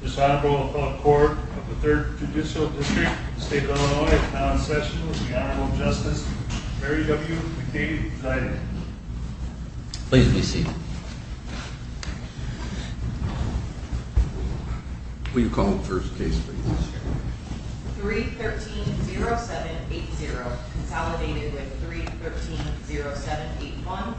This Honorable Court of the Third Judicial District of the State of Illinois is now in session with the Honorable Justice Mary W. McDadey presiding. Please be seated. Will you call the first case please? 3-13-07-80 Consolidated with 3-13-07-81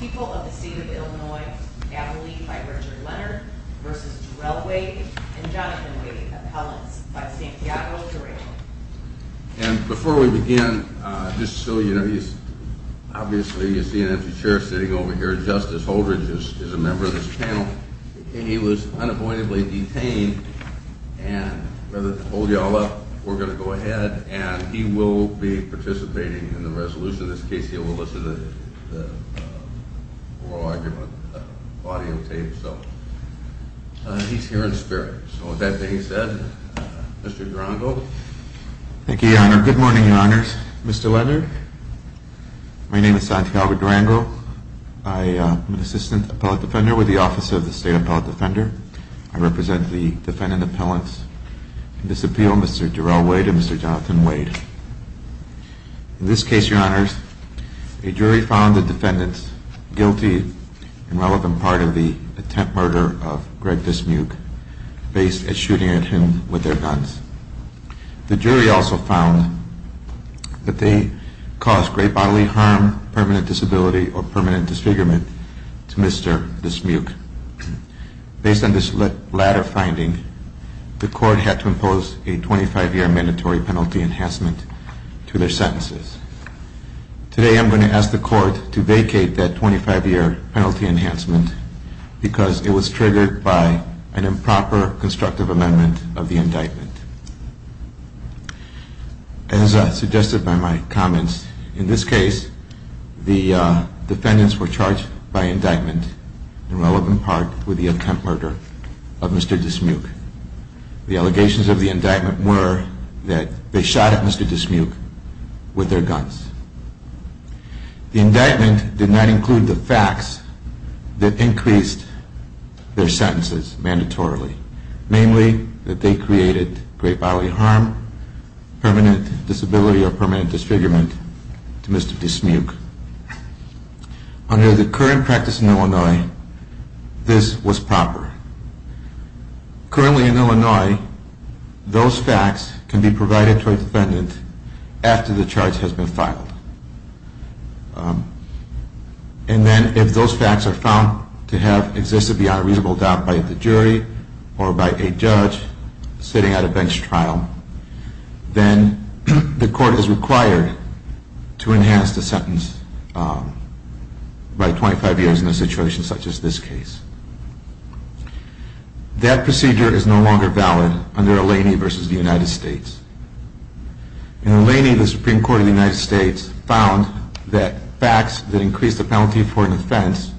People of the State of Illinois, Natalie by Richard Leonard v. Durell Wade and Jonathan Wade, Appellants by Santiago Durell. And before we begin, just so you know, he's obviously, you see an empty chair sitting over here. Justice Holdridge is a member of this panel. He was unavoidably detained and rather than hold you all up, we're going to go ahead and he will be participating in the resolution. In this case, he'll listen to the oral argument, the audio tape. So he's here in spirit. So with that being said, Mr. Durango. Thank you, Your Honor. Good morning, Your Honors. Mr. Leonard, my name is Santiago Durango. I am an assistant appellate defender with the Office of the State Appellate Defender. I represent the defendant appellants in this appeal, Mr. Durell Wade and Mr. Jonathan Wade. In this case, Your Honors, a jury found the defendants guilty in relevant part of the attempt murder of Greg Dismuke based at shooting at him with their guns. The jury also found that they caused great bodily harm, permanent disability or permanent disfigurement to Mr. Dismuke. Based on this latter finding, the court had to impose a 25-year mandatory penalty enhancement to their sentences. Today, I'm going to ask the court to vacate that 25-year penalty enhancement because it was triggered by an improper constructive amendment of the indictment. As suggested by my comments, in this case, the defendants were charged by indictment in relevant part with the attempt murder of Mr. Dismuke. The allegations of the indictment were that they shot at Mr. Dismuke with their guns. The indictment did not include the facts that increased their sentences mandatorily. Namely, that they created great bodily harm, permanent disability or permanent disfigurement to Mr. Dismuke. Under the current practice in Illinois, this was proper. Currently in Illinois, those facts can be provided to a defendant after the charge has been filed. And then if those facts are found to have existed beyond a reasonable doubt by the jury or by a judge sitting at a bench trial, then the court is required to enhance the sentence by 25 years in a situation such as this case. That procedure is no longer valid under Eleni v. The United States. In Eleni, the Supreme Court of the United States found that facts that increase the penalty for an offense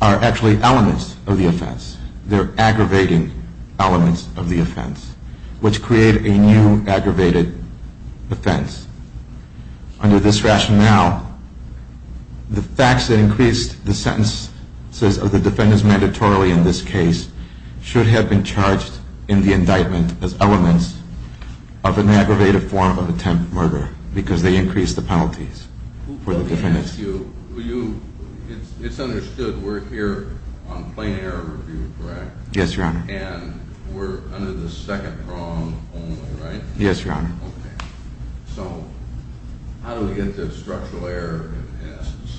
are actually elements of the offense. They're aggravating elements of the offense, which create a new aggravated offense. Under this rationale, the facts that increased the sentences of the defendants mandatorily in this case should have been charged in the indictment as elements of an aggravated form of attempted murder because they increased the penalties for the defendants. It's understood we're here on plain error review, correct? Yes, Your Honor. And we're under the second prong only, right? Yes, Your Honor. Okay. So how do we get to structural error in the sentence?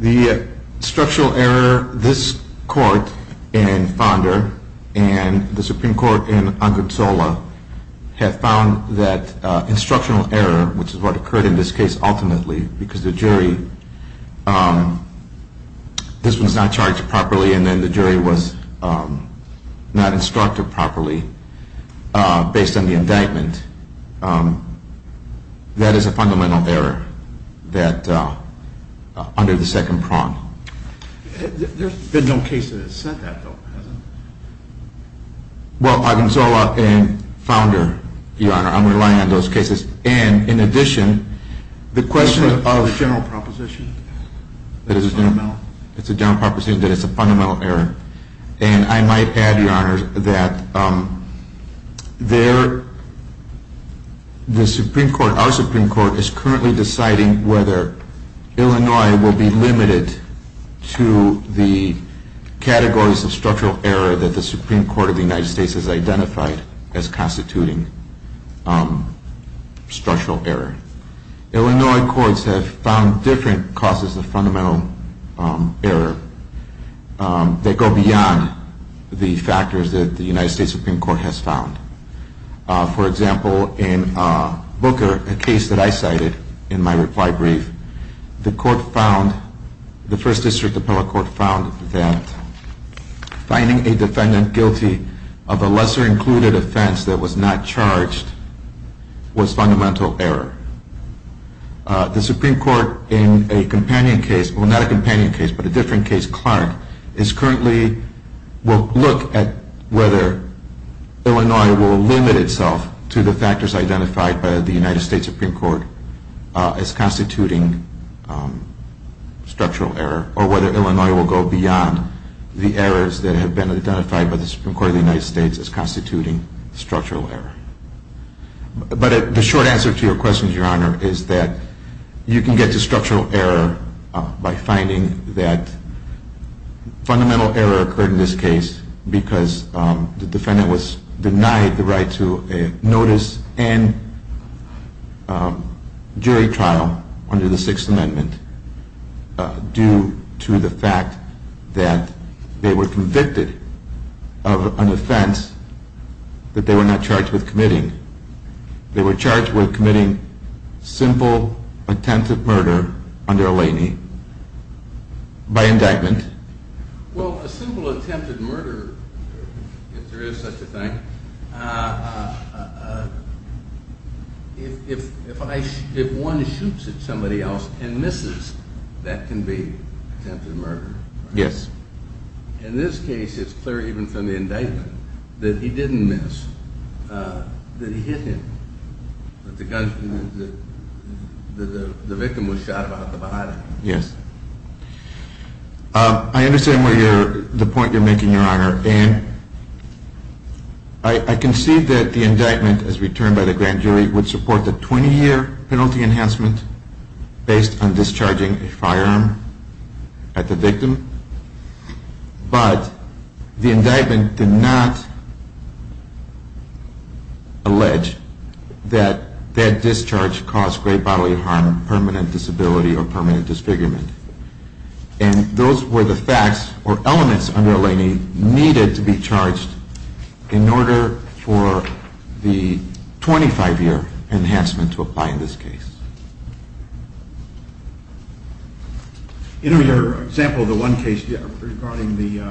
The structural error, this court in Fonda and the Supreme Court in Angonsola have found that instructional error, which is what occurred in this case ultimately because the jury, this was not charged properly and then the jury was not instructed properly based on the indictment. That is a fundamental error under the second prong. There's been no case that has said that though, has there? Well, Angonsola and Fonda, Your Honor, I'm relying on those cases. And in addition, the question of… Is that a general proposition? It's a general proposition that it's a fundamental error. And I might add, Your Honor, that the Supreme Court, our Supreme Court, is currently deciding whether Illinois will be limited to the categories of structural error that the Supreme Court of the United States has identified as constituting structural error. Illinois courts have found different causes of fundamental error that go beyond the factors that the United States Supreme Court has found. For example, in Booker, a case that I cited in my reply brief, the court found, the First District Appellate Court found that finding a defendant guilty of a lesser-included offense that was not charged was fundamental error. The Supreme Court in a companion case, well, not a companion case, but a different case, Clark, is currently… will look at whether Illinois will limit itself to the factors identified by the United States Supreme Court as constituting structural error or whether Illinois will go beyond the errors that have been identified by the Supreme Court of the United States as constituting structural error. But the short answer to your question, Your Honor, is that you can get to structural error by finding that fundamental error occurred in this case because the defendant was denied the right to notice and jury trial under the Sixth Amendment due to the fact that they were convicted of an offense that they were not charged with committing. They were charged with committing simple attempted murder under a lay knee by indictment. Well, a simple attempted murder, if there is such a thing, if one shoots at somebody else and misses, that can be attempted murder. Yes. In this case, it's clear even from the indictment that he didn't miss, that he hit him, that the victim was shot about the body. Yes. I understand the point you're making, Your Honor, and I concede that the indictment as returned by the grand jury would support the 20-year penalty enhancement based on discharging a firearm at the victim, but the indictment did not allege that that discharge caused great bodily harm, permanent disability, or permanent disfigurement. And those were the facts or elements under a lay knee needed to be charged in order for the 25-year enhancement to apply in this case. In your example, the one case regarding the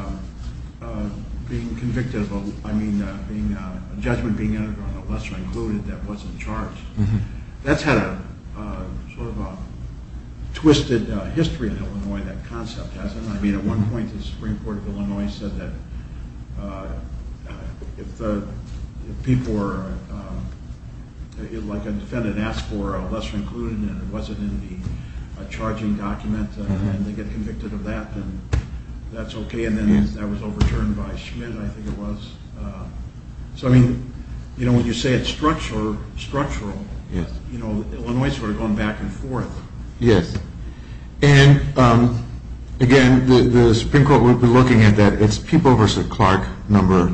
being convicted, I mean a judgment being entered on a lesser included that wasn't charged, that's had a sort of a twisted history in Illinois, that concept hasn't it? I mean at one point the Supreme Court of Illinois said that if the people were, like a defendant asked for a lesser included and it wasn't in the charging document and they get convicted of that, then that's okay. And then that was overturned by Schmidt, I think it was. So I mean when you say it's structural, Illinois is sort of going back and forth. Yes. And again, the Supreme Court would be looking at that, it's People v. Clark, number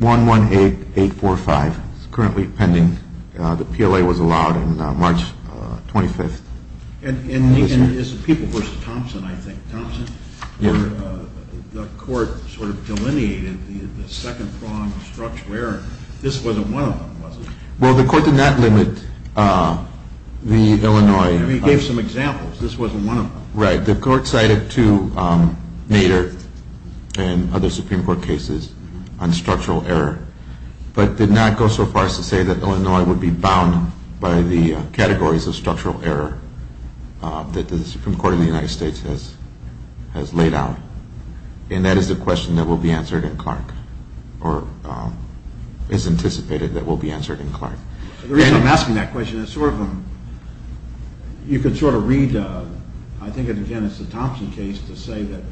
118845, it's currently pending, the PLA was allowed on March 25th. And it's People v. Thompson, I think. Thompson? Yes. The court sort of delineated the second prong of structural error, this wasn't one of them was it? Well the court did not limit the Illinois. I mean it gave some examples, this wasn't one of them. Right, the court cited two Nader and other Supreme Court cases on structural error, but did not go so far as to say that Illinois would be bound by the categories of structural error that the Supreme Court of the United States has laid out. And that is the question that will be answered in Clark, or is anticipated that will be answered in Clark. The reason I'm asking that question is sort of, you can sort of read, I think again it's the Thompson case to say that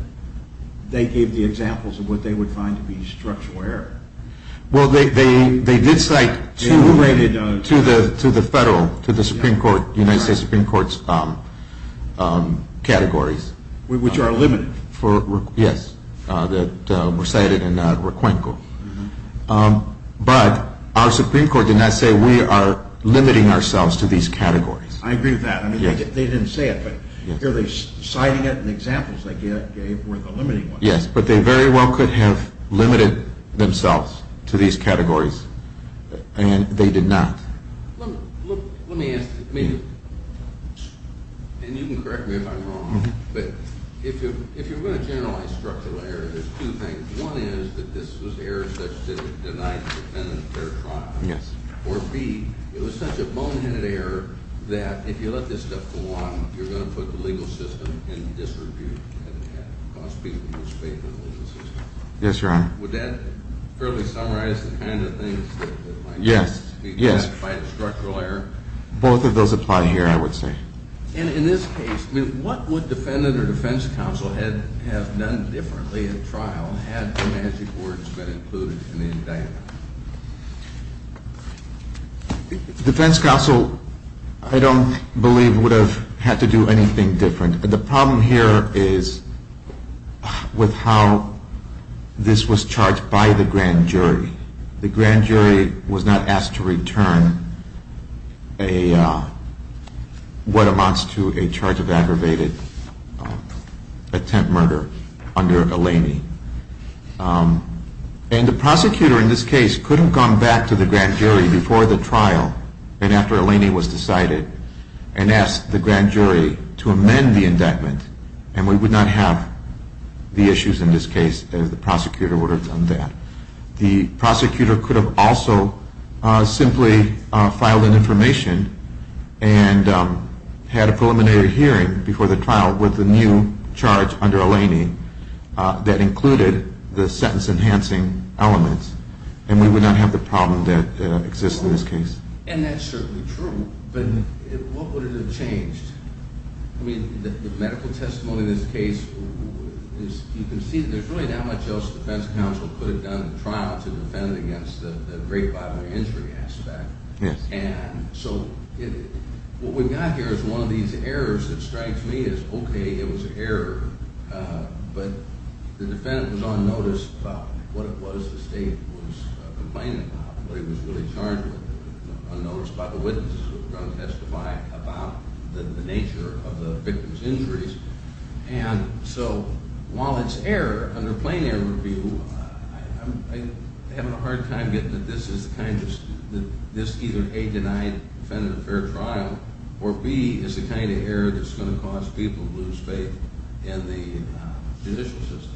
they gave the examples of what they would find to be structural error. Well they did cite two to the federal, to the Supreme Court, United States Supreme Court's categories. Which are limited. Yes, that were cited in Requenco. But our Supreme Court did not say we are limiting ourselves to these categories. I agree with that, I mean they didn't say it, but here they're citing it and the examples they gave were the limiting ones. Yes, but they very well could have limited themselves to these categories. And they did not. Let me ask, and you can correct me if I'm wrong, but if you're going to generalize structural error, there's two things. One is that this was error such that it denied the defendant fair trial. Yes. Or B, it was such a boneheaded error that if you let this stuff go on, you're going to put the legal system in disrepute. Yes, Your Honor. Would that fairly summarize the kind of things that might be identified as structural error? Both of those apply here, I would say. And in this case, what would defendant or defense counsel have done differently at trial had the magic words been included in the indictment? Defense counsel, I don't believe, would have had to do anything different. The problem here is with how this was charged by the grand jury. The grand jury was not asked to return what amounts to a charge of aggravated attempt murder under Eleni. And the prosecutor in this case couldn't have gone back to the grand jury before the trial and after Eleni was decided and asked the grand jury to amend the indictment, and we would not have the issues in this case if the prosecutor would have done that. The prosecutor could have also simply filed an information and had a preliminary hearing before the trial with the new charge under Eleni that included the sentence-enhancing elements, and we would not have the problem that exists in this case. And that's certainly true, but what would it have changed? I mean, the medical testimony in this case, you can see there's really not much else defense counsel could have done at trial to defend against the great bodily injury aspect. Yes. And so what we've got here is one of these errors that strikes me as, okay, it was an error, but the defendant was on notice about what it was the state was complaining about, what he was really charged with, unnoticed by the witnesses who were going to testify about the nature of the victim's injuries. And so while it's error under plain-air review, I'm having a hard time getting that this is the kind that this either, A, denied the defendant a fair trial, or, B, it's the kind of error that's going to cause people to lose faith in the judicial system.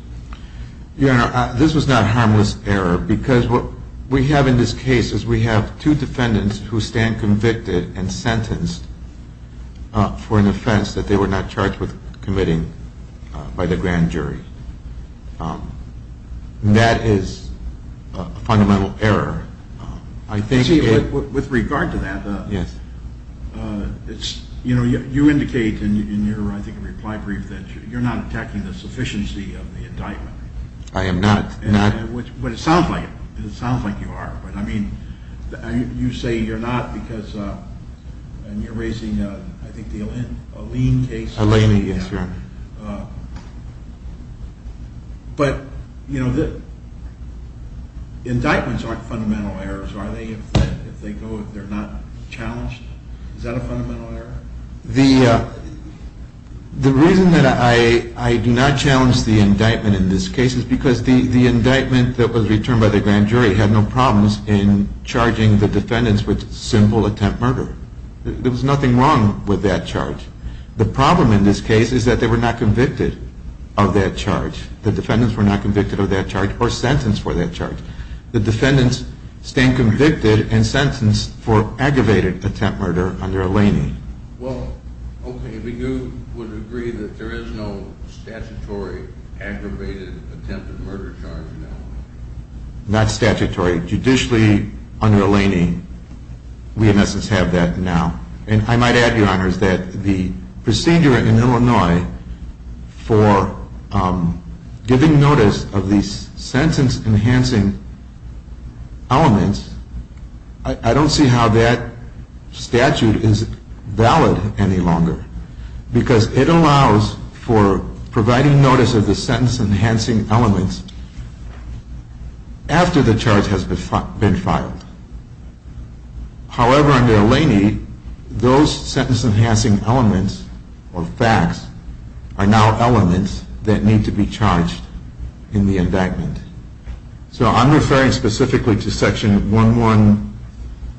Your Honor, this was not a harmless error because what we have in this case is we have two defendants who stand convicted and sentenced for an offense that they were not charged with committing by the grand jury. That is a fundamental error. With regard to that, you indicate in your, I think, reply brief that you're not attacking the sufficiency of the indictment. I am not. But it sounds like it. It sounds like you are. But, I mean, you say you're not because you're raising, I think, the Alene case. Alene, yes, Your Honor. But, you know, the indictments aren't fundamental errors, are they, if they go, if they're not challenged? Is that a fundamental error? The reason that I do not challenge the indictment in this case is because the indictment that was returned by the grand jury had no problems in charging the defendants with simple attempt murder. There was nothing wrong with that charge. The problem in this case is that they were not convicted of that charge. The defendants were not convicted of that charge or sentenced for that charge. The defendants stand convicted and sentenced for aggravated attempt murder under Alene. Well, okay, but you would agree that there is no statutory aggravated attempted murder charge now? Not statutory. Judicially, under Alene, we in essence have that now. And I might add, Your Honor, is that the procedure in Illinois for giving notice of the sentence-enhancing elements, I don't see how that statute is valid any longer because it allows for providing notice of the sentence-enhancing elements after the charge has been filed. However, under Alene, those sentence-enhancing elements or facts are now elements that need to be charged in the indictment. So I'm referring specifically to Section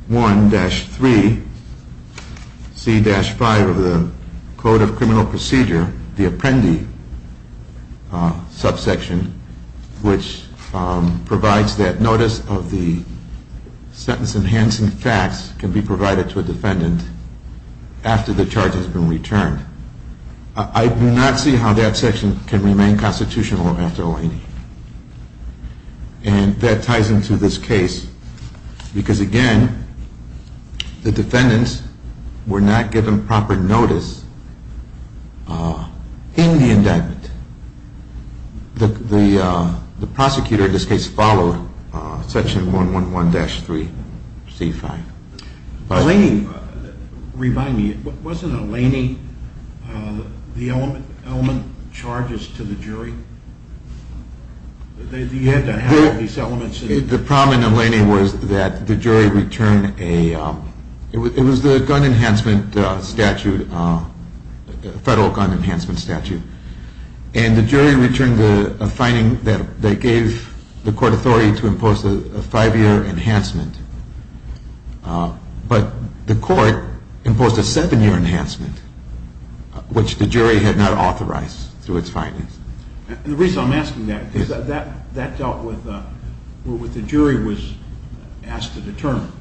111-3C-5 of the Code of Criminal Procedure, the Apprendi subsection, which provides that notice of the sentence-enhancing facts can be provided to a defendant after the charge has been returned. I do not see how that section can remain constitutional after Alene. And that ties into this case because, again, the defendants were not given proper notice in the indictment. The prosecutor in this case followed Section 111-3C-5. Remind me, wasn't Alene the element charges to the jury? You had to have these elements. The problem in Alene was that the jury returned a – it was the gun enhancement statute, federal gun enhancement statute. And the jury returned a finding that they gave the court authority to impose a five-year enhancement. But the court imposed a seven-year enhancement, which the jury had not authorized through its findings. The reason I'm asking that is that dealt with what the jury was asked to determine.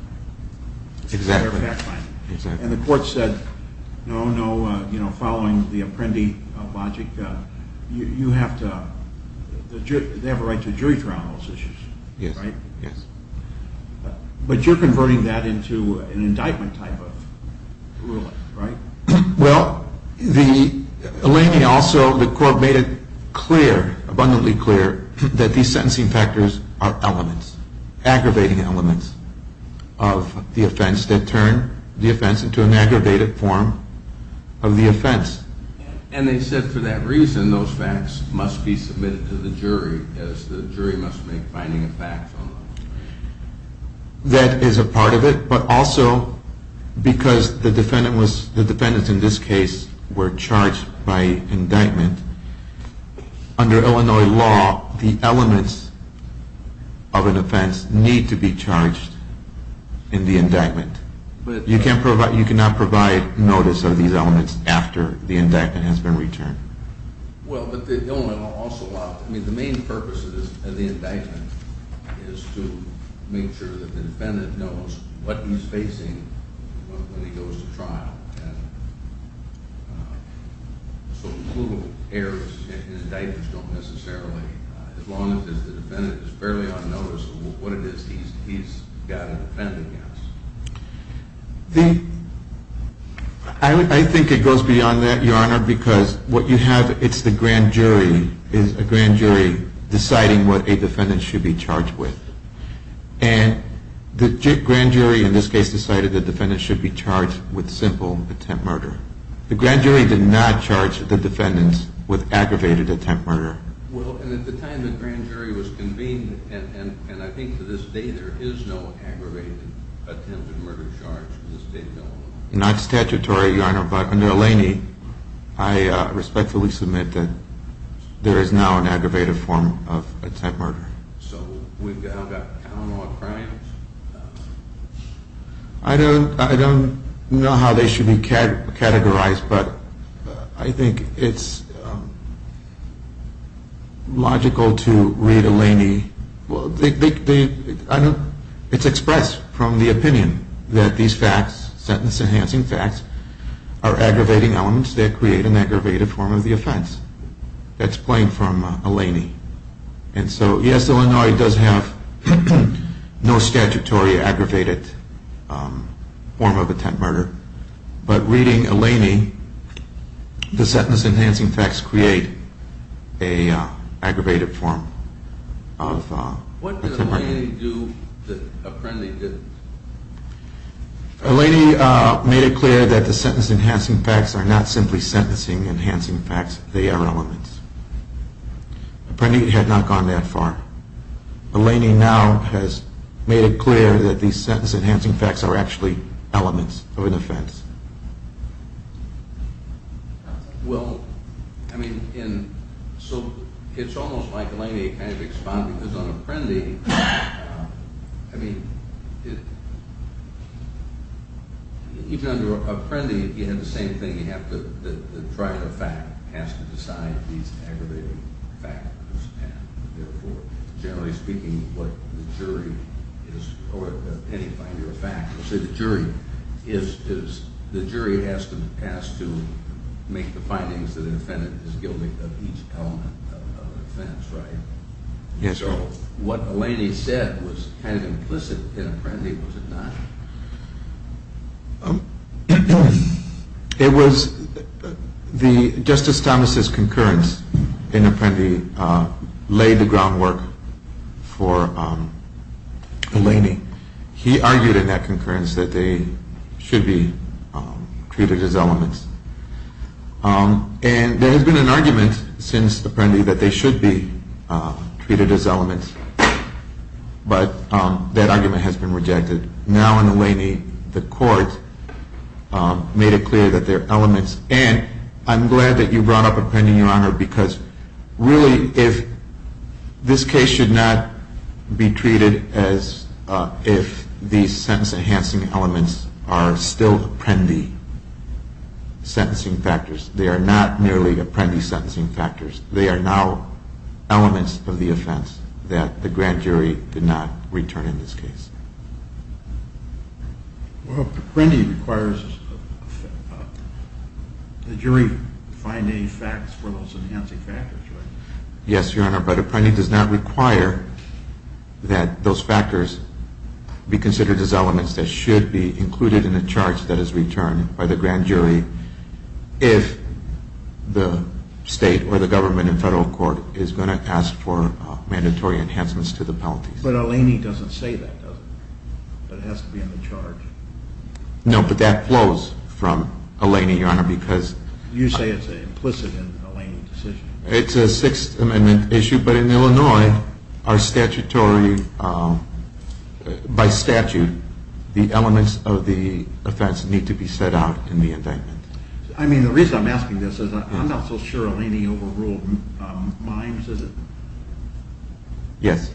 Exactly. And the court said, no, no, following the Apprendi logic, you have to – they have a right to a jury trial on those issues, right? Yes. But you're converting that into an indictment type of ruling, right? Well, the – Alene also, the court made it clear, abundantly clear, that these sentencing factors are elements, aggravating elements of the offense that turn the offense into an aggravated form of the offense. And they said for that reason, those facts must be submitted to the jury as the jury must make finding a fact on those. That is a part of it, but also because the defendant was – the defendants in this case were charged by indictment. Under Illinois law, the elements of an offense need to be charged in the indictment. You cannot provide notice of these elements after the indictment has been returned. Well, but the element also – I mean, the main purpose of the indictment is to make sure that the defendant knows what he's facing when he goes to trial. And so, crucial errors in indictments don't necessarily – as long as the defendant is fairly unnoticeable, what it is he's got to defend against. I think it goes beyond that, Your Honor, because what you have – it's the grand jury deciding what a defendant should be charged with. And the grand jury in this case decided the defendant should be charged with simple attempt murder. The grand jury did not charge the defendants with aggravated attempt murder. Well, and at the time the grand jury was convened, and I think to this day there is no aggravated attempted murder charge in this state of Illinois. Not statutory, Your Honor, but under Eleni, I respectfully submit that there is now an aggravated form of attempt murder. So we've got count on crimes? I don't know how they should be categorized, but I think it's logical to read Eleni – it's expressed from the opinion that these facts, sentence-enhancing facts, are aggravating elements that create an aggravated form of the offense. That's playing from Eleni. And so, yes, Illinois does have no statutory aggravated form of attempt murder, but reading Eleni, the sentence-enhancing facts create an aggravated form of attempt murder. What did Eleni do that Apprendi didn't? Eleni made it clear that the sentence-enhancing facts are not simply sentencing-enhancing facts. They are elements. Apprendi had not gone that far. Eleni now has made it clear that the sentence-enhancing facts are actually elements of an offense. Well, I mean, so it's almost like Eleni kind of expounded, because on Apprendi, I mean, even under Apprendi, you have the same thing. The trial of fact has to decide these aggravating facts, and therefore, generally speaking, what the jury is – or any finding of fact. So the jury has to make the findings that an offendant is guilty of each element of an offense, right? Yes, sir. So what Eleni said was kind of implicit in Apprendi, was it not? It was the – Justice Thomas's concurrence in Apprendi laid the groundwork for Eleni. He argued in that concurrence that they should be treated as elements. And there has been an argument since Apprendi that they should be treated as elements, but that argument has been rejected. Now in Eleni, the court made it clear that they're elements. And I'm glad that you brought up Apprendi, Your Honor, because really if – this case should not be treated as if these sentence-enhancing elements are still Apprendi sentencing factors. They are not merely Apprendi sentencing factors. They are now elements of the offense that the grand jury did not return in this case. Well, Apprendi requires the jury find any facts for those enhancing factors, right? Yes, Your Honor, but Apprendi does not require that those factors be considered as elements that should be included in a charge that is returned by the grand jury if the state or the government in federal court is going to ask for mandatory enhancements to the penalty. But Eleni doesn't say that, does it? That it has to be in the charge. No, but that flows from Eleni, Your Honor, because – You say it's an implicit in Eleni decision. It's a Sixth Amendment issue, but in Illinois, our statutory – by statute, the elements of the offense need to be set out in the indictment. I mean, the reason I'm asking this is I'm not so sure Eleni overruled Mimes, is it? Yes.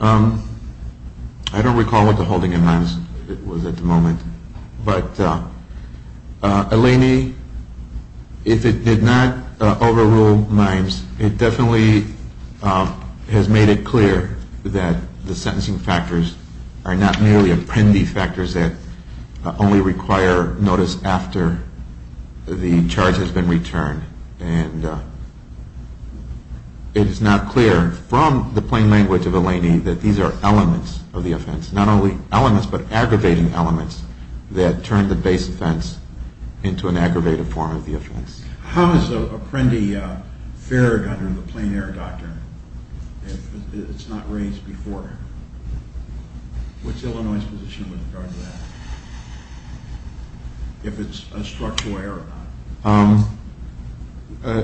I don't recall what the holding in Mimes was at the moment, but Eleni, if it did not overrule Mimes, it definitely has made it clear that the sentencing factors are not merely Apprendi factors that only require notice after the charge has been returned. And it is not clear from the plain language of Eleni that these are elements of the offense, not only elements but aggravating elements that turn the base offense into an aggravated form of the offense. How is Apprendi fair under the plain error doctrine if it's not raised before? What's Illinois' position with regard to that? If it's a structural error or not?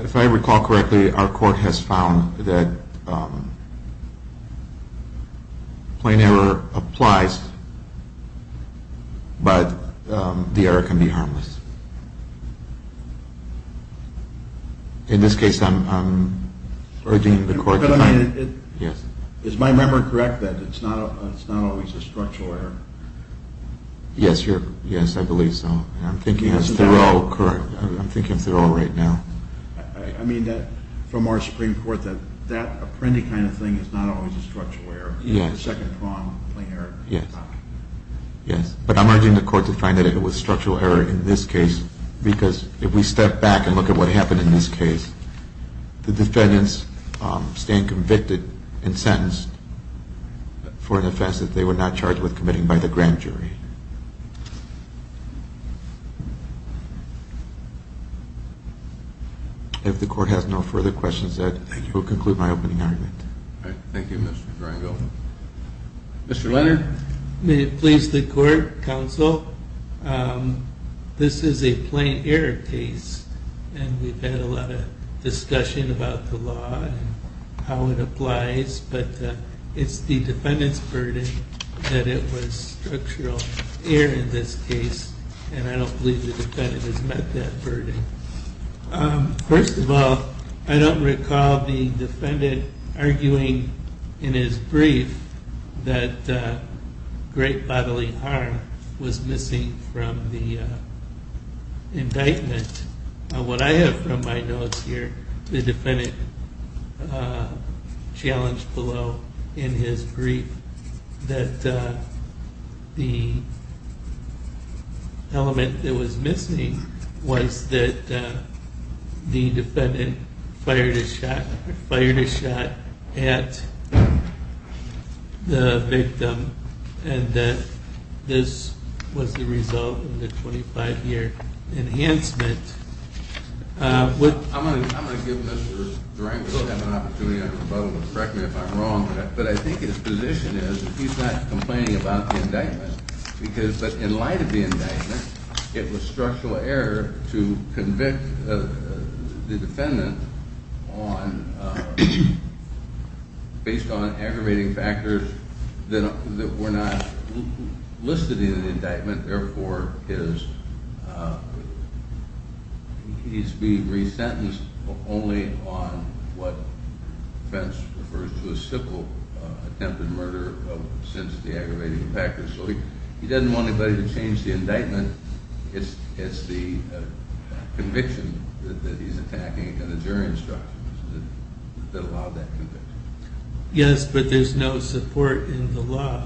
If I recall correctly, our court has found that plain error applies, but the error can be harmless. In this case, I'm urging the court to find – Is my memory correct that it's not always a structural error? Yes, I believe so. I'm thinking of Thoreau. I'm thinking of Thoreau right now. I mean, from our Supreme Court, that Apprendi kind of thing is not always a structural error. It's a second-prong plain error. Yes. But I'm urging the court to find that it was structural error in this case because if we step back and look at what happened in this case, the defendants stand convicted and sentenced for an offense that they were not charged with committing by the grand jury. If the court has no further questions, that will conclude my opening argument. Thank you, Mr. Drango. Mr. Leonard. May it please the court, counsel, this is a plain error case, and we've had a lot of discussion about the law and how it applies, but it's the defendant's burden that it was structural error in this case, and I don't believe the defendant has met that burden. First of all, I don't recall the defendant arguing in his brief that great bodily harm was missing from the indictment. What I have from my notes here, the defendant challenged below in his brief that the element that was missing was that the defendant fired a shot at the victim and that this was the result of the 25-year enhancement. I'm going to give Mr. Drango a chance to correct me if I'm wrong, but I think his position is that he's not complaining about the indictment, but in light of the indictment, it was structural error to convict the defendant based on aggravating factors that were not listed in the indictment. Therefore, he's being resentenced only on what the defense refers to as simple attempted murder of sensitive aggravating factors. So he doesn't want anybody to change the indictment. It's the conviction that he's attacking and the jury instruction that allowed that conviction. Yes, but there's no support in the law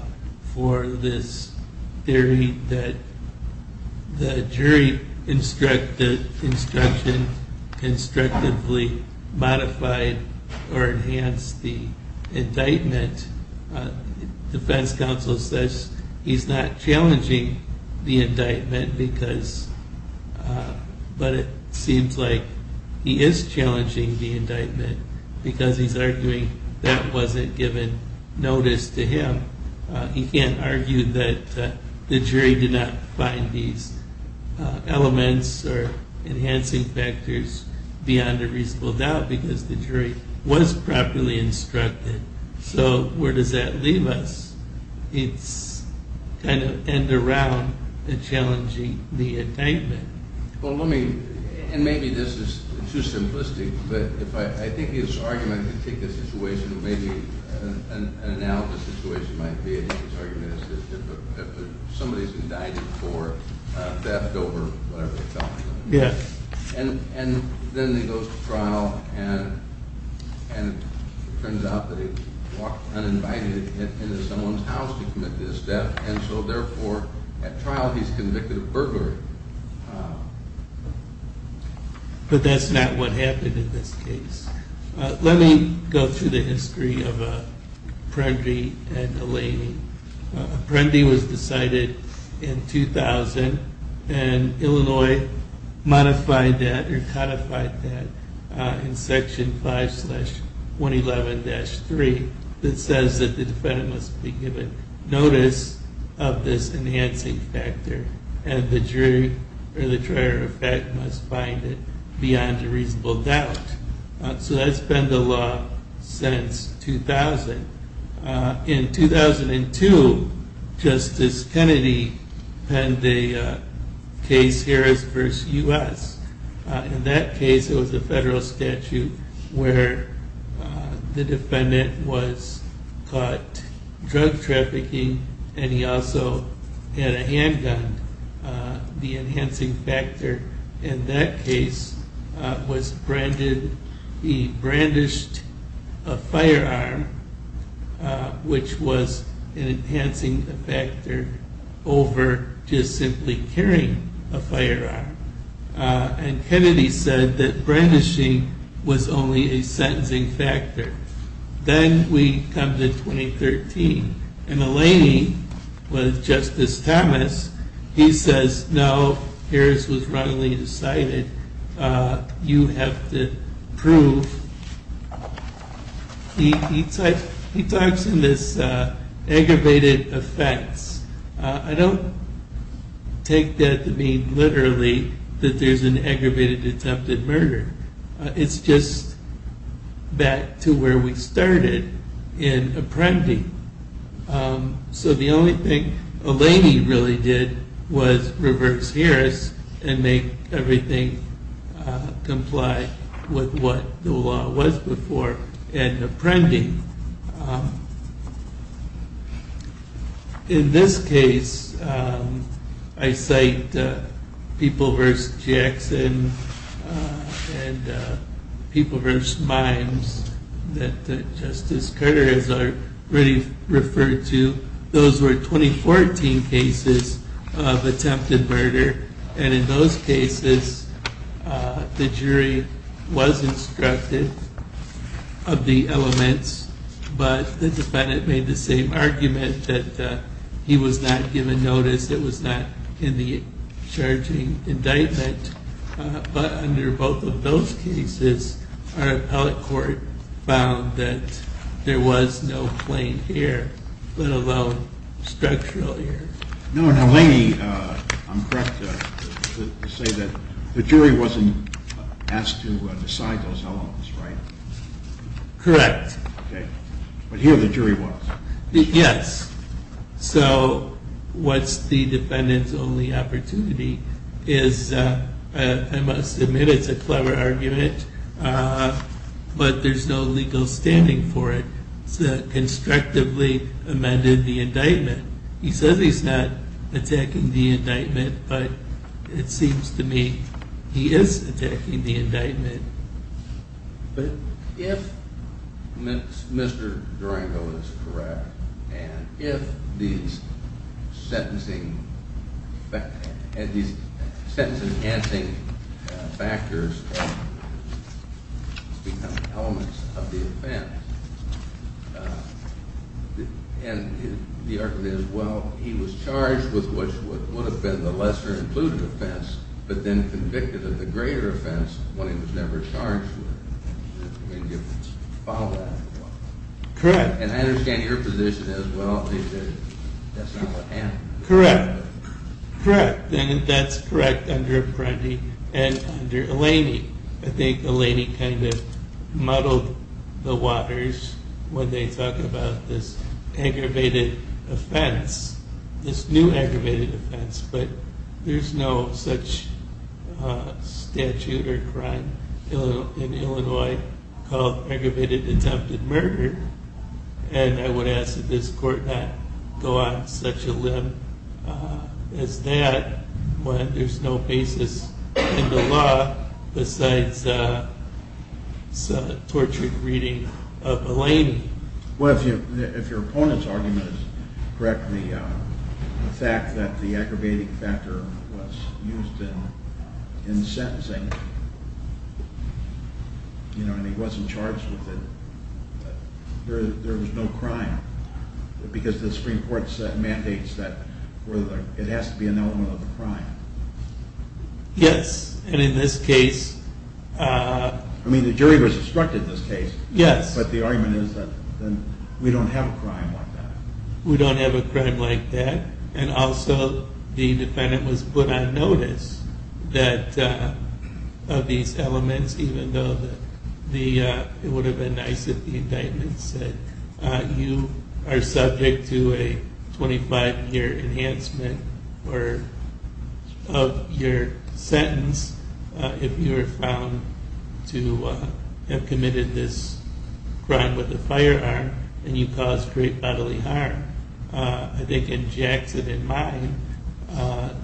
for this theory that the jury instruction constructively modified or enhanced the indictment. The defense counsel says he's not challenging the indictment, but it seems like he is challenging the indictment because he's arguing that wasn't given notice to him. He can't argue that the jury did not find these elements or enhancing factors beyond a reasonable doubt because the jury was properly instructed. So where does that leave us? It's kind of end around in challenging the indictment. Well, let me, and maybe this is too simplistic, but I think his argument to take this situation, maybe an analogous situation might be that his argument is that somebody's indicted for theft over whatever they're talking about. Yes. And then he goes to trial and it turns out that he walked uninvited into someone's house to commit this theft, and so therefore at trial he's convicted of burglary. But that's not what happened in this case. Let me go through the history of Apprendi and Eleni. And Illinois modified that or codified that in Section 5-111-3 that says that the defendant must be given notice of this enhancing factor and the jury or the trier of fact must find it beyond a reasonable doubt. So that's been the law since 2000. In 2002, Justice Kennedy penned a case, Harris v. U.S. In that case it was a federal statute where the defendant was caught drug trafficking and he also had a handgun. The enhancing factor in that case was he brandished a firearm, which was an enhancing factor over just simply carrying a firearm. And Kennedy said that brandishing was only a sentencing factor. Then we come to 2013, and Eleni with Justice Thomas, he says, no, Harris was wrongly decided. You have to prove. He talks in this aggravated offense. I don't take that to mean literally that there's an aggravated attempted murder. It's just back to where we started in apprending. So the only thing Eleni really did was reverse Harris and make everything comply with what the law was before in apprending. In this case, I cite People v. Jackson and People v. Mimes that Justice Carter has already referred to. Those were 2014 cases of attempted murder. And in those cases, the jury was instructed of the elements, but the defendant made the same argument that he was not given notice, it was not in the charging indictment. But under both of those cases, our appellate court found that there was no plain hair, let alone structural hair. Now Eleni, I'm correct to say that the jury wasn't asked to decide those elements, right? Correct. But here the jury was. Yes. So what's the defendant's only opportunity is, I must admit it's a clever argument, but there's no legal standing for it. It's a constructively amended indictment. He says he's not attacking the indictment, but it seems to me he is attacking the indictment. But if Mr. Durango is correct, and if these sentencing factors become elements of the offense, and the argument is, well, he was charged with what would have been the lesser included offense, but then convicted of the greater offense, one he was never charged with, then you follow that. Correct. And I understand your position as well. That's not what happened. Correct. Correct. And that's correct under Apprendi and under Eleni. I think Eleni kind of muddled the waters when they talk about this aggravated offense, this new aggravated offense, but there's no such statute or crime in Illinois called aggravated attempted murder, and I would ask that this court not go on such a limb as that when there's no basis in the law besides a tortured reading of Eleni. Well, if your opponent's argument is correct, the fact that the aggravated factor was used in sentencing, and he wasn't charged with it, there was no crime, because the Supreme Court mandates that it has to be an element of the crime. Yes, and in this case... I mean, the jury was obstructed in this case. Yes. But the argument is that we don't have a crime like that. We don't have a crime like that, and also the defendant was put on notice of these elements, even though it would have been nice if the indictment said you are subject to a 25-year enhancement of your sentence if you are found to have committed this crime with a firearm and you caused great bodily harm. I think in Jackson and mine,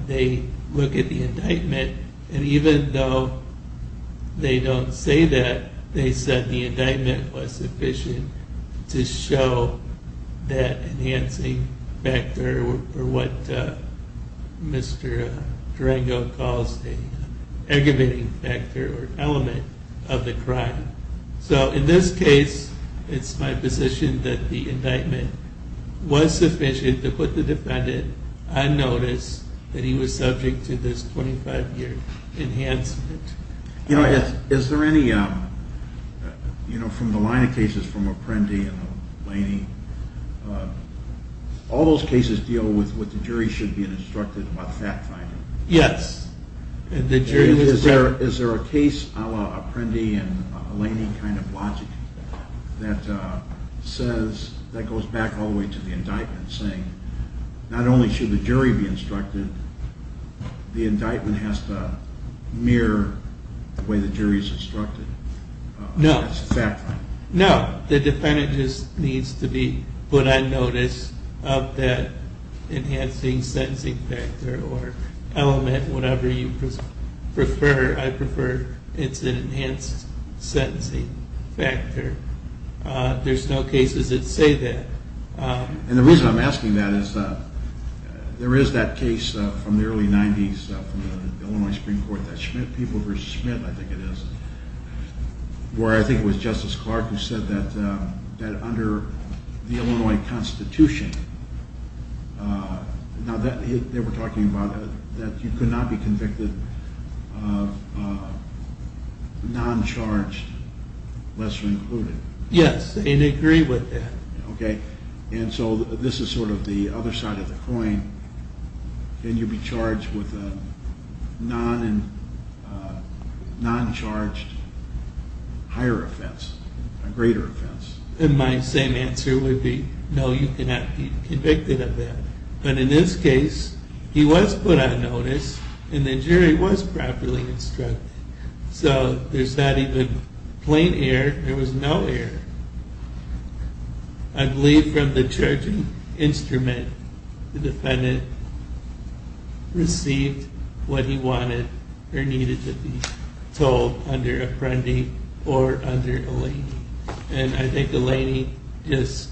they look at the indictment, and even though they don't say that, they said the indictment was sufficient to show that enhancing factor, or what Mr. Durango calls an aggravating factor or element of the crime. So in this case, it's my position that the indictment was sufficient to put the defendant on notice that he was subject to this 25-year enhancement. You know, from the line of cases from Apprendi and Eleni, all those cases deal with what the jury should be instructed about fact-finding. Yes. Is there a case a la Apprendi and Eleni kind of logic that goes back all the way to the indictment saying not only should the jury be instructed, the indictment has to mirror the way the jury is instructed? No. No, the defendant just needs to be put on notice of that enhancing sentencing factor or element, whatever you prefer. I prefer it's an enhanced sentencing factor. There's no cases that say that. And the reason I'm asking that is there is that case from the early 90s from the Illinois Supreme Court, that Schmidt v. Schmidt, I think it is, where I think it was Justice Clark who said that under the Illinois Constitution, now they were talking about that you could not be convicted of non-charged, lesser included. Yes, and they agreed with that. Okay. And so this is sort of the other side of the coin. Can you be charged with a non-charged higher offense, a greater offense? And my same answer would be no, you cannot be convicted of that. But in this case, he was put on notice and the jury was properly instructed. So there's not even plain error. There was no error. I believe from the charging instrument, the defendant received what he wanted or needed to be told under Apprendi or under Eleni. And I think Eleni just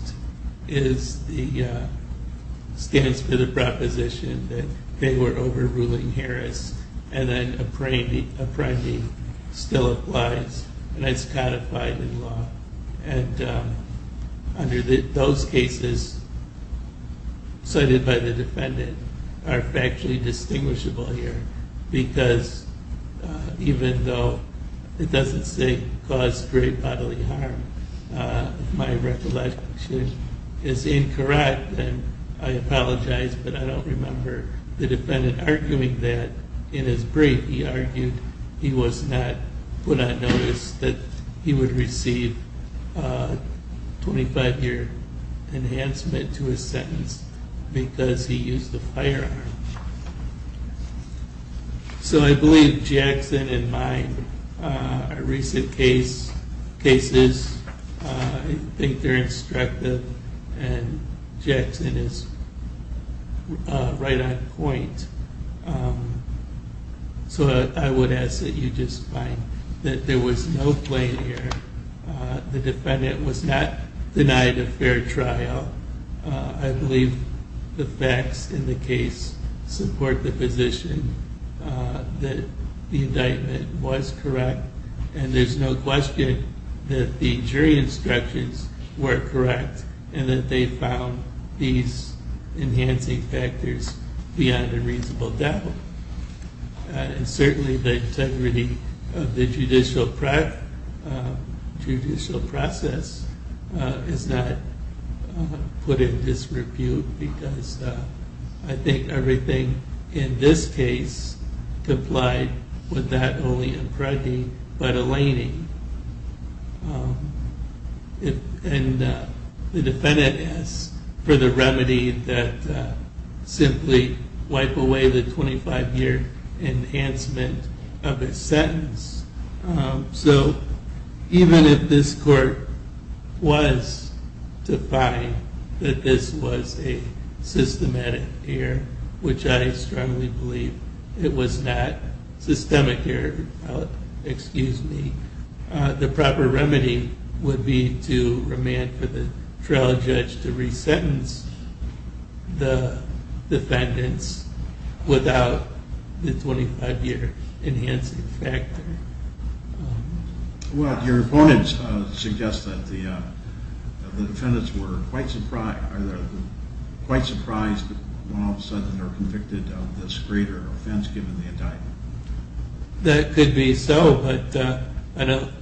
stands for the proposition that they were overruling Harris. And then Apprendi still applies and it's codified in law. And under those cases cited by the defendant are factually distinguishable here because even though it doesn't say cause great bodily harm, if my recollection is incorrect, then I apologize, but I don't remember the defendant arguing that in his brief. He argued he was not put on notice that he would receive a 25-year enhancement to his sentence because he used a firearm. So I believe Jackson and mine are recent cases. I think they're instructive and Jackson is right on point. So I would ask that you just find that there was no plain error. The defendant was not denied a fair trial. I believe the facts in the case support the position that the indictment was correct. And there's no question that the jury instructions were correct and that they found these enhancing factors beyond a reasonable doubt. And certainly the integrity of the judicial process is not put in disrepute because I think everything in this case complied with that only Apprendi but Eleni. And the defendant asks for the remedy that simply wipe away the 25-year enhancement of a sentence. So even if this court was to find that this was a systematic error, which I strongly believe it was not systemic error, the proper remedy would be to remand for the trial judge to resentence the defendants without the 25-year enhancing factor. Well, your opponents suggest that the defendants were quite surprised when all of a sudden they're convicted of this greater offense given the indictment. That could be so, but I don't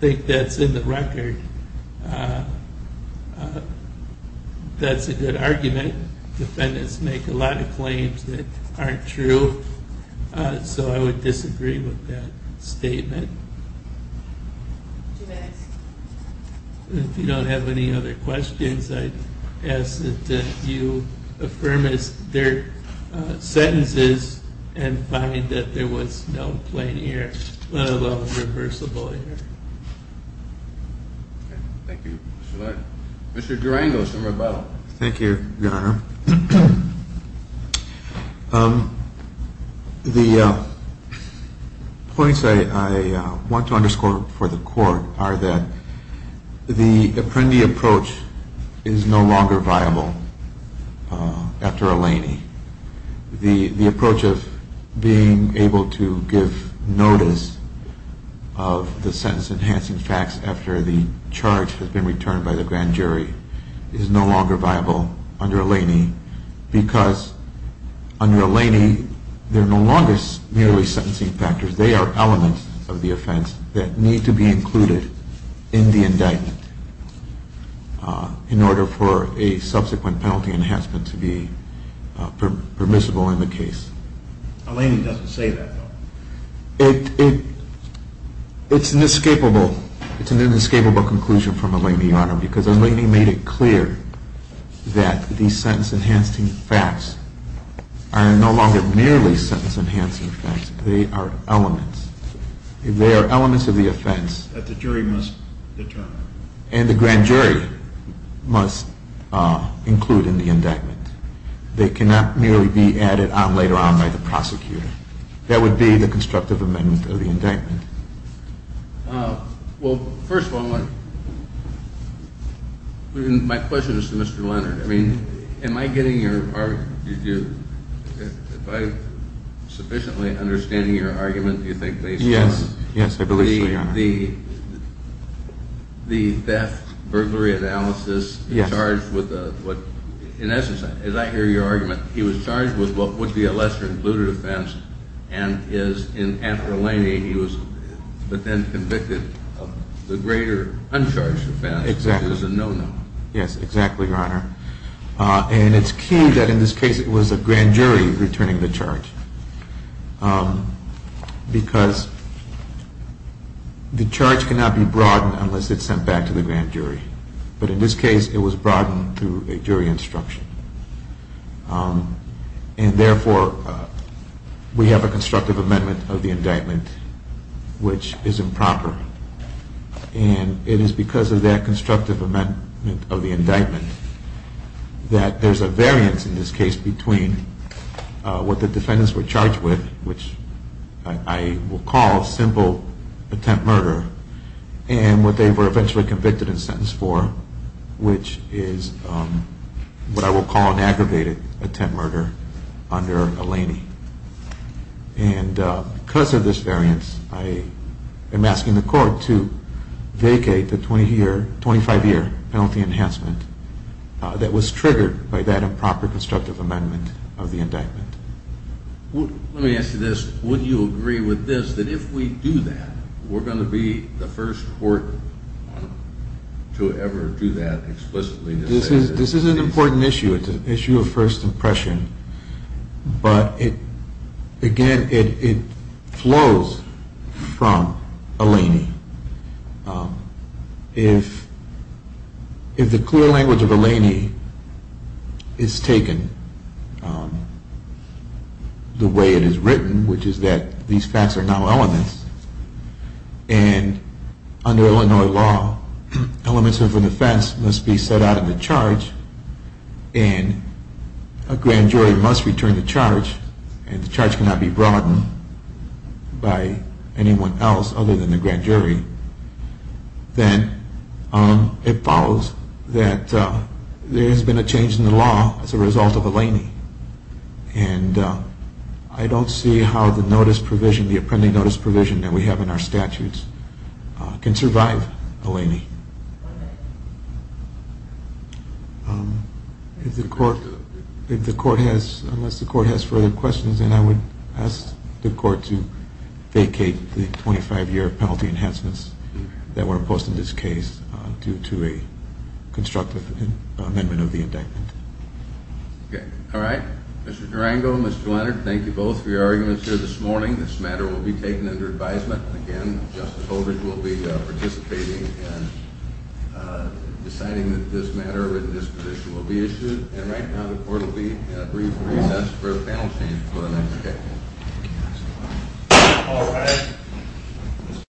think that's in the record. That's a good argument. Defendants make a lot of claims that aren't true, so I would disagree with that statement. If you don't have any other questions, I'd ask that you affirm their sentences and find that there was no plain error, let alone reversible error. Thank you, Mr. Laird. Mr. Durango, some rebuttal. Thank you, Your Honor. The points I want to underscore for the court are that the Apprendi approach is no longer viable after Eleni. The approach of being able to give notice of the sentence enhancing facts after the charge has been returned by the grand jury is no longer viable under Eleni. Because under Eleni, there are no longer merely sentencing factors. They are elements of the offense that need to be included in the indictment in order for a subsequent penalty enhancement to be permissible in the case. Eleni doesn't say that, though. It's an inescapable conclusion from Eleni, Your Honor, because Eleni made it clear that the sentence enhancing facts are no longer merely sentence enhancing facts. They are elements. They are elements of the offense that the jury must determine and the grand jury must include in the indictment. They cannot merely be added on later on by the prosecutor. That would be the constructive amendment of the indictment. Well, first of all, my question is to Mr. Leonard. I mean, am I getting your argument? Am I sufficiently understanding your argument, do you think, based on the theft, burglary analysis? Yes. He was charged with what, in essence, as I hear your argument, he was charged with what would be a lesser included offense and is, in after Eleni, he was then convicted of the greater uncharged offense. Exactly. Which is a no-no. Yes, exactly, Your Honor. And it's key that in this case it was a grand jury returning the charge. Because the charge cannot be broadened unless it's sent back to the grand jury. But in this case, it was broadened through a jury instruction. And therefore, we have a constructive amendment of the indictment which is improper. And it is because of that constructive amendment of the indictment that there's a variance in this case between what the defendants were charged with, which I will call simple attempt murder, and what they were eventually convicted and sentenced for, which is what I will call an aggravated attempt murder under Eleni. And because of this variance, I am asking the court to vacate the 25-year penalty enhancement that was triggered by that improper constructive amendment of the indictment. Let me ask you this. Would you agree with this, that if we do that, we're going to be the first court to ever do that explicitly? This is an important issue. It's an issue of first impression. But again, it flows from Eleni. If the clear language of Eleni is taken the way it is written, which is that these facts are now elements, and under Illinois law, elements of a defense must be set out in the charge, and a grand jury must return the charge, and the charge cannot be broadened by anyone else other than the grand jury, then it follows that there has been a change in the law as a result of Eleni. And I don't see how the notice provision, the appending notice provision that we have in our statutes can survive Eleni. If the court has, unless the court has further questions, then I would ask the court to vacate the 25-year penalty enhancements that were imposed in this case due to a constructive amendment of the indictment. Okay. All right. Mr. Durango, Mr. Leonard, thank you both for your arguments here this morning. This matter will be taken under advisement. Again, Justice Holder will be participating in deciding that this matter or this position will be issued. And right now the court will be in a brief recess for a panel change for the next day. Thank you. All right.